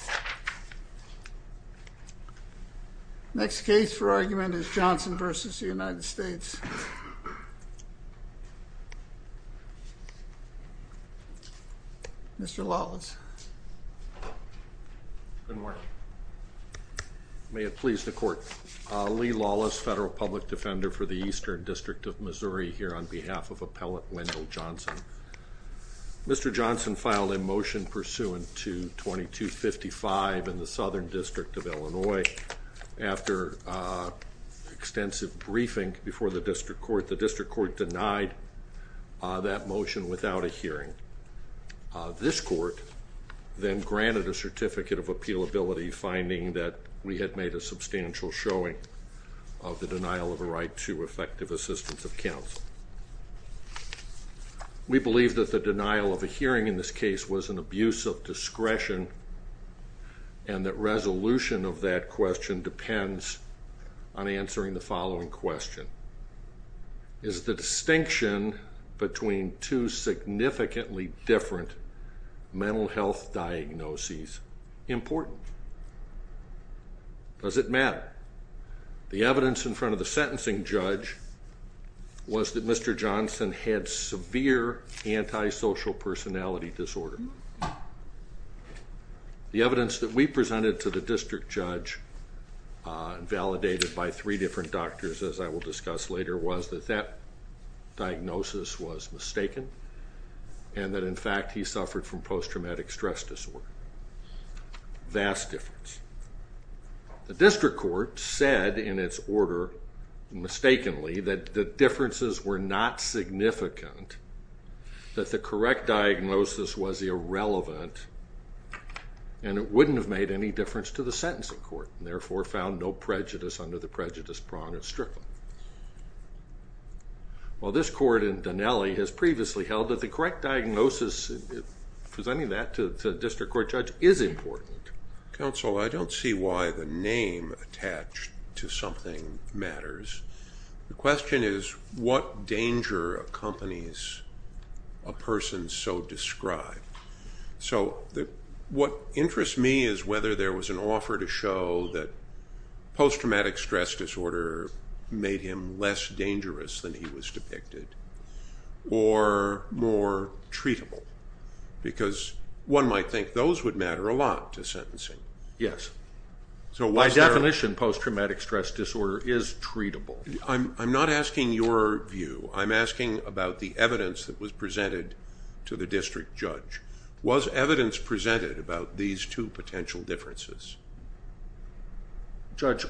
Lee Lawless, Federal Public Defender for the Eastern District of Missouri, here on behalf of Appellant Wendell Johnson. Mr. Johnson filed a motion pursuant to 2255 in the Southern District of Illinois after extensive briefing before the District Court. The District Court denied that motion without a hearing. This court then granted a Certificate of Appealability finding that we had made a substantial showing of the denial of a right to effective assistance of counsel. We believe that the denial of a hearing in this case was an abuse of discretion and that resolution of that question depends on answering the following question. Is the distinction between two significantly different mental health diagnoses important? Does it matter? The evidence in front of the sentencing judge was that Mr. Johnson had severe antisocial personality disorder. The evidence that we presented to the district judge, validated by three different doctors as I will discuss later, was that that diagnosis was mistaken and that in fact he suffered from post-traumatic stress disorder. Vast difference. The District Court said in its order, mistakenly, that the differences were not significant, that the correct diagnosis was irrelevant and it wouldn't have made any difference to the sentencing court and therefore found no prejudice under the prejudice prong at Strickland. While this court in Donnelly has previously held that the correct diagnosis, presenting that to the District Court judge, is important. Counsel, I don't see why the name attached to something matters. The question is what danger accompanies a person so described? So what interests me is whether there was an offer to show that post-traumatic stress disorder made him less dangerous than he was depicted or more treatable because one might think those would matter a lot to sentencing. Yes. By definition, post-traumatic stress disorder is treatable. I'm not asking your view. I'm asking about the evidence that was presented to the district judge. Was evidence presented about these two potential differences? Judge,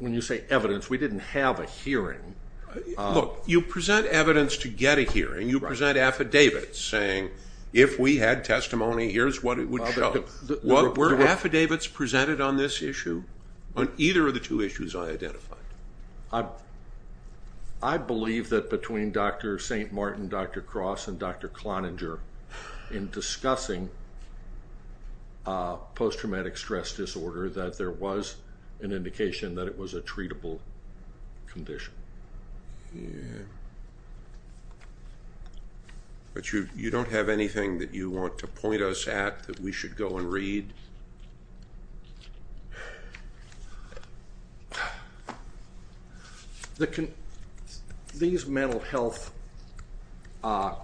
when you say evidence, we didn't have a hearing. Look, you present evidence to get a hearing. You present affidavits saying if we had testimony, here's what it would show. Were affidavits presented on this issue, on either of the two issues I identified? I believe that between Dr. St. Martin, Dr. Cross, and Dr. Cloninger, in discussing post-traumatic stress disorder, that there was an indication that it was a treatable condition. But you don't have anything that you want to point us at that we should go and read? These mental health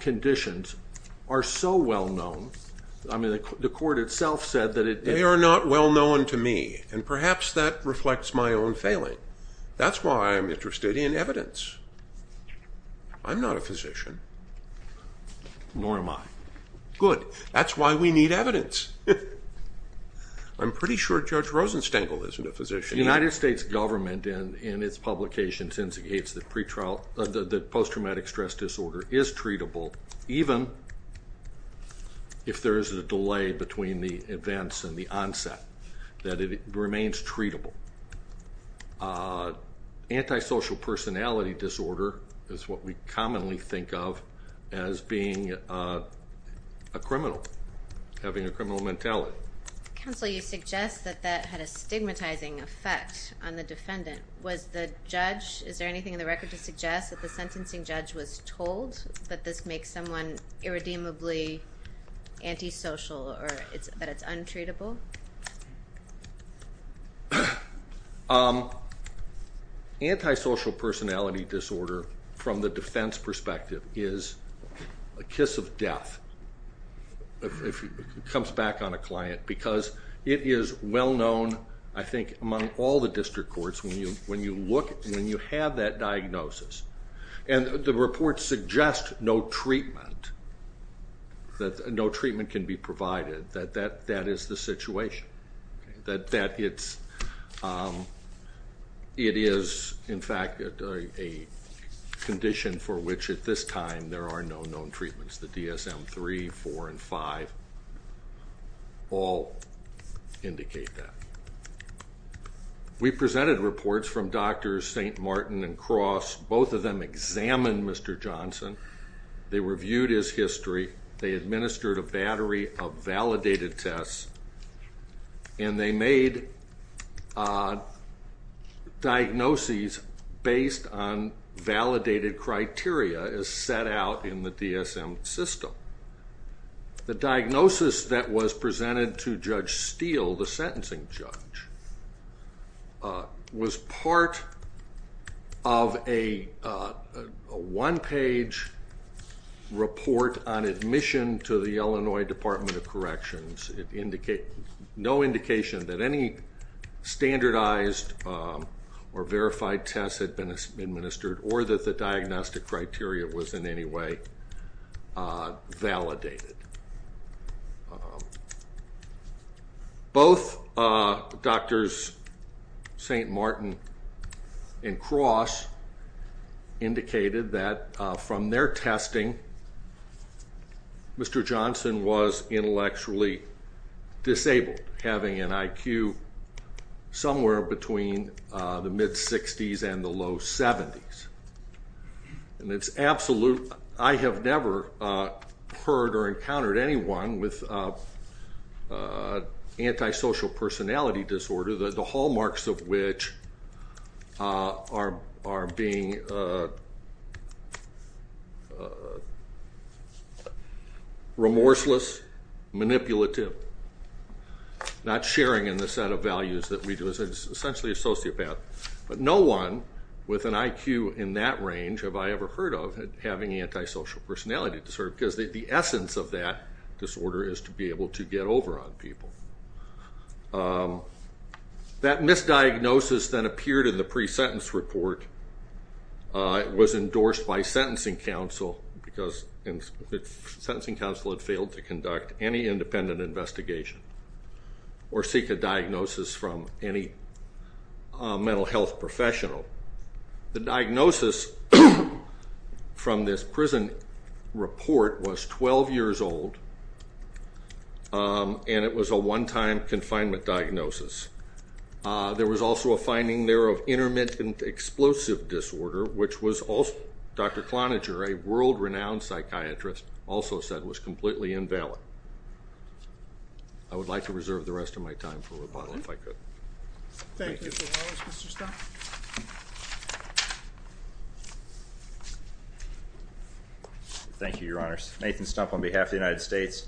conditions are so well-known. The court itself said that it... They are not well-known to me, and perhaps that reflects my own failing. That's why I'm interested in evidence. I'm not a physician. Nor am I. Good. That's why we need evidence. I'm pretty sure Judge Rosenstengel isn't a physician. The United States government, in its publication, indicates that post-traumatic stress disorder is treatable, even if there is a delay between the events and the onset, that it remains treatable. Antisocial personality disorder is what we commonly think of as being a criminal, having a criminal mentality. Counsel, you suggest that that had a stigmatizing effect on the defendant. Is there anything in the record to suggest that the sentencing judge was told that this makes someone irredeemably antisocial or that it's untreatable? Antisocial personality disorder, from the defense perspective, is a kiss of death if it comes back on a client because it is well-known, I think, among all the district courts when you have that diagnosis. And the report suggests no treatment, that no treatment can be provided, that that is the situation, that it is, in fact, a condition for which at this time there are no known treatments. The DSM-3, 4, and 5 all indicate that. We presented reports from Drs. St. Martin and Cross. Both of them examined Mr. Johnson. They reviewed his history. They administered a battery of validated tests, and they made diagnoses based on validated criteria as set out in the DSM system. The diagnosis that was presented to Judge Steele, the sentencing judge, was part of a one-page report on admission to the Illinois Department of Corrections. It indicated no indication that any standardized or verified tests had been administered or that the diagnostic criteria was in any way validated. Both Drs. St. Martin and Cross indicated that from their testing, Mr. Johnson was intellectually disabled, having an IQ somewhere between the mid-60s and the low 70s. And it's absolute. I have never heard or encountered anyone with antisocial personality disorder, the hallmarks of which are being remorseless, manipulative, not sharing in the set of values that we do as essentially a sociopath. But no one with an IQ in that range have I ever heard of having antisocial personality disorder because the essence of that disorder is to be able to get over on people. That misdiagnosis that appeared in the pre-sentence report was endorsed by sentencing counsel because sentencing counsel had failed to conduct any independent investigation or seek a diagnosis from any mental health professional. The diagnosis from this prison report was 12 years old, and it was a one-time confinement diagnosis. There was also a finding there of intermittent explosive disorder, which Dr. Cloninger, a world-renowned psychiatrist, also said was completely invalid. I would like to reserve the rest of my time for rebuttal if I could. Thank you, Mr. Wallace. Mr. Stumpf? Thank you, Your Honors. Nathan Stumpf on behalf of the United States.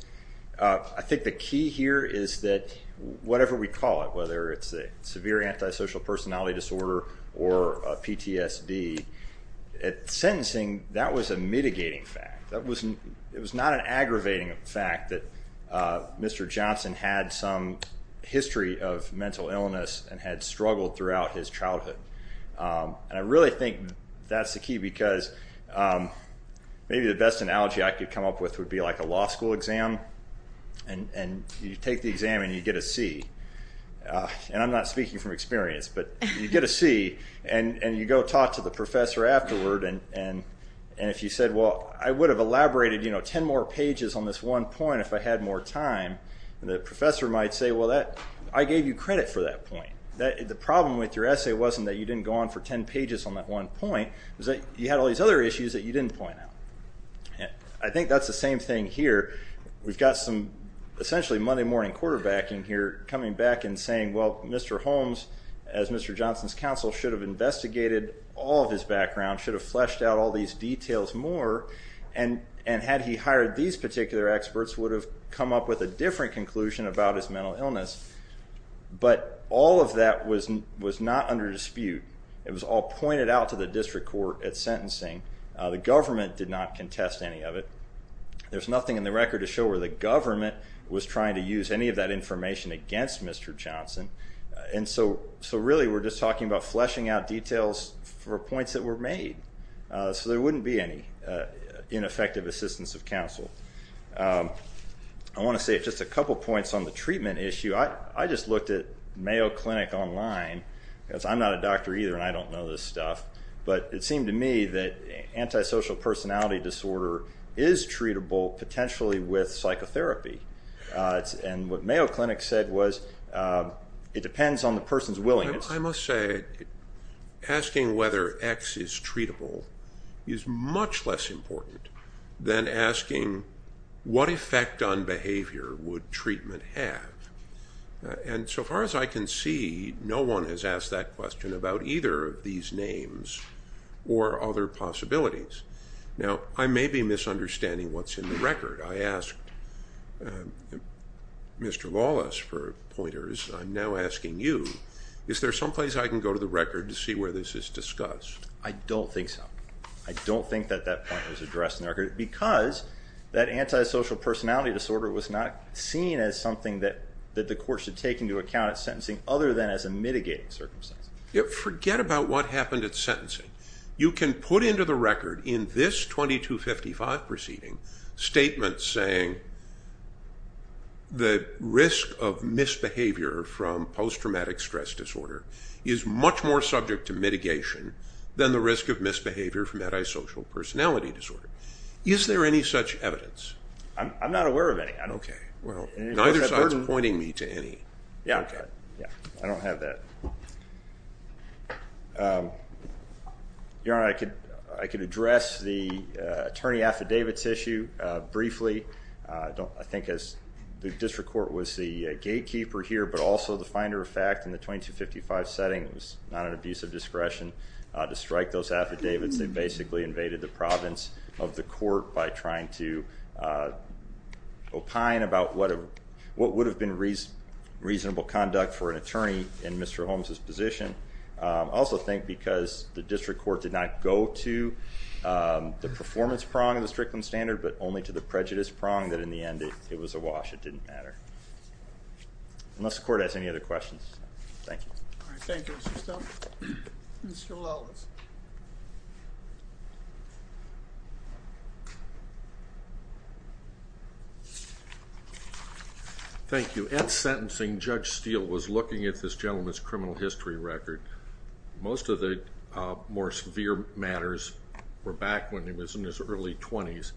I think the key here is that whatever we call it, whether it's a severe antisocial personality disorder or PTSD, at sentencing that was a mitigating fact. It was not an aggravating fact that Mr. Johnson had some history of mental illness and had struggled throughout his childhood. I really think that's the key because maybe the best analogy I could come up with would be like a law school exam. You take the exam, and you get a C. I'm not speaking from experience, but you get a C, and you go talk to the professor afterward. If you said, well, I would have elaborated 10 more pages on this one point if I had more time, the professor might say, well, I gave you credit for that point. The problem with your essay wasn't that you didn't go on for 10 pages on that one point. It was that you had all these other issues that you didn't point out. I think that's the same thing here. We've got some essentially Monday morning quarterbacking here coming back and saying, well, Mr. Holmes, as Mr. Johnson's counsel, should have investigated all of his background, should have fleshed out all these details more, and had he hired these particular experts would have come up with a different conclusion about his mental illness. But all of that was not under dispute. It was all pointed out to the district court at sentencing. The government did not contest any of it. There's nothing in the record to show where the government was trying to use any of that information against Mr. Johnson. So really we're just talking about fleshing out details for points that were made. So there wouldn't be any ineffective assistance of counsel. I want to say just a couple points on the treatment issue. I just looked at Mayo Clinic online. I'm not a doctor either, and I don't know this stuff. But it seemed to me that antisocial personality disorder is treatable potentially with psychotherapy. And what Mayo Clinic said was it depends on the person's willingness. I must say asking whether X is treatable is much less important than asking what effect on behavior would treatment have. And so far as I can see, no one has asked that question about either of these names or other possibilities. Now, I may be misunderstanding what's in the record. I asked Mr. Wallace for pointers. I'm now asking you. Is there someplace I can go to the record to see where this is discussed? I don't think so. I don't think that that point was addressed in the record because that antisocial personality disorder was not seen as something that the court should take into account at sentencing other than as a mitigating circumstance. Forget about what happened at sentencing. You can put into the record in this 2255 proceeding statements saying the risk of misbehavior from post-traumatic stress disorder is much more subject to mitigation than the risk of misbehavior from antisocial personality disorder. Is there any such evidence? I'm not aware of any. Neither side is pointing me to any. I don't have that. Your Honor, I could address the attorney affidavits issue briefly. I think the district court was the gatekeeper here, but also the finder of fact in the 2255 setting. It was not an abuse of discretion to strike those affidavits. They basically invaded the province of the court by trying to opine about what would have been reasonable conduct for an attorney in Mr. Holmes' position. I also think because the district court did not go to the performance prong of the Strickland standard, but only to the prejudice prong, that in the end it was a wash. It didn't matter. Unless the court has any other questions. Thank you. All right. Thank you, Mr. Stone. Mr. Lellis. Thank you. At sentencing, Judge Steele was looking at this gentleman's criminal history record. Most of the more severe matters were back when he was in his early 20s.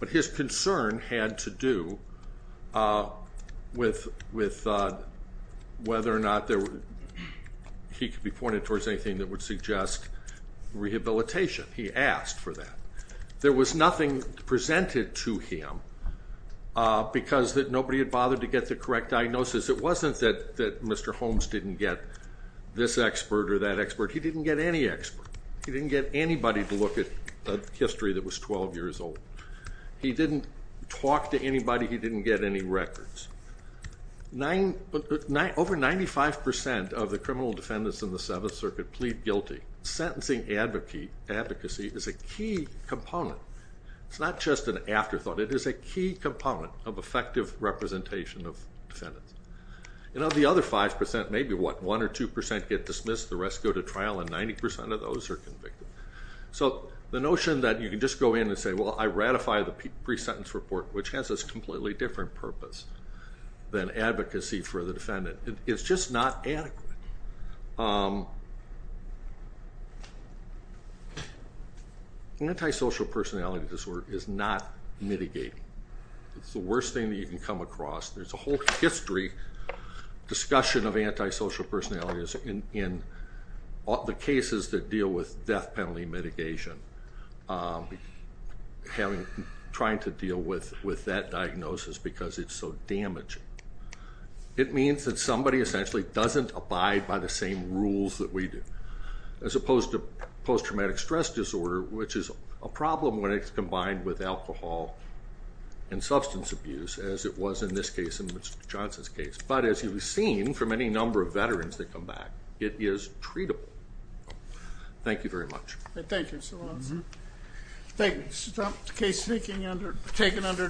But his concern had to do with whether or not he could be pointed towards anything that would suggest rehabilitation. He asked for that. There was nothing presented to him because nobody had bothered to get the correct diagnosis. It wasn't that Mr. Holmes didn't get this expert or that expert. He didn't get any expert. He didn't get anybody to look at a history that was 12 years old. He didn't talk to anybody. He didn't get any records. Over 95% of the criminal defendants in the Seventh Circuit plead guilty. Sentencing advocacy is a key component. It's not just an afterthought. It is a key component of effective representation of defendants. And of the other 5%, maybe, what, 1% or 2% get dismissed, the rest go to trial, and 90% of those are convicted. So the notion that you can just go in and say, well, I ratify the pre-sentence report, which has this completely different purpose than advocacy for the defendant. It's just not adequate. Antisocial personality disorder is not mitigating. It's the worst thing that you can come across. There's a whole history, discussion of antisocial personalities in the cases that deal with death penalty mitigation, trying to deal with that diagnosis because it's so damaging. It means that somebody essentially doesn't abide by the same rules that we do, as opposed to post-traumatic stress disorder, which is a problem when it's combined with alcohol and substance abuse, as it was in this case and Mr. Johnson's case. But as you've seen from any number of veterans that come back, it is treatable. Thank you very much. Thank you so much, sir. Thank you. Case taken under discussion.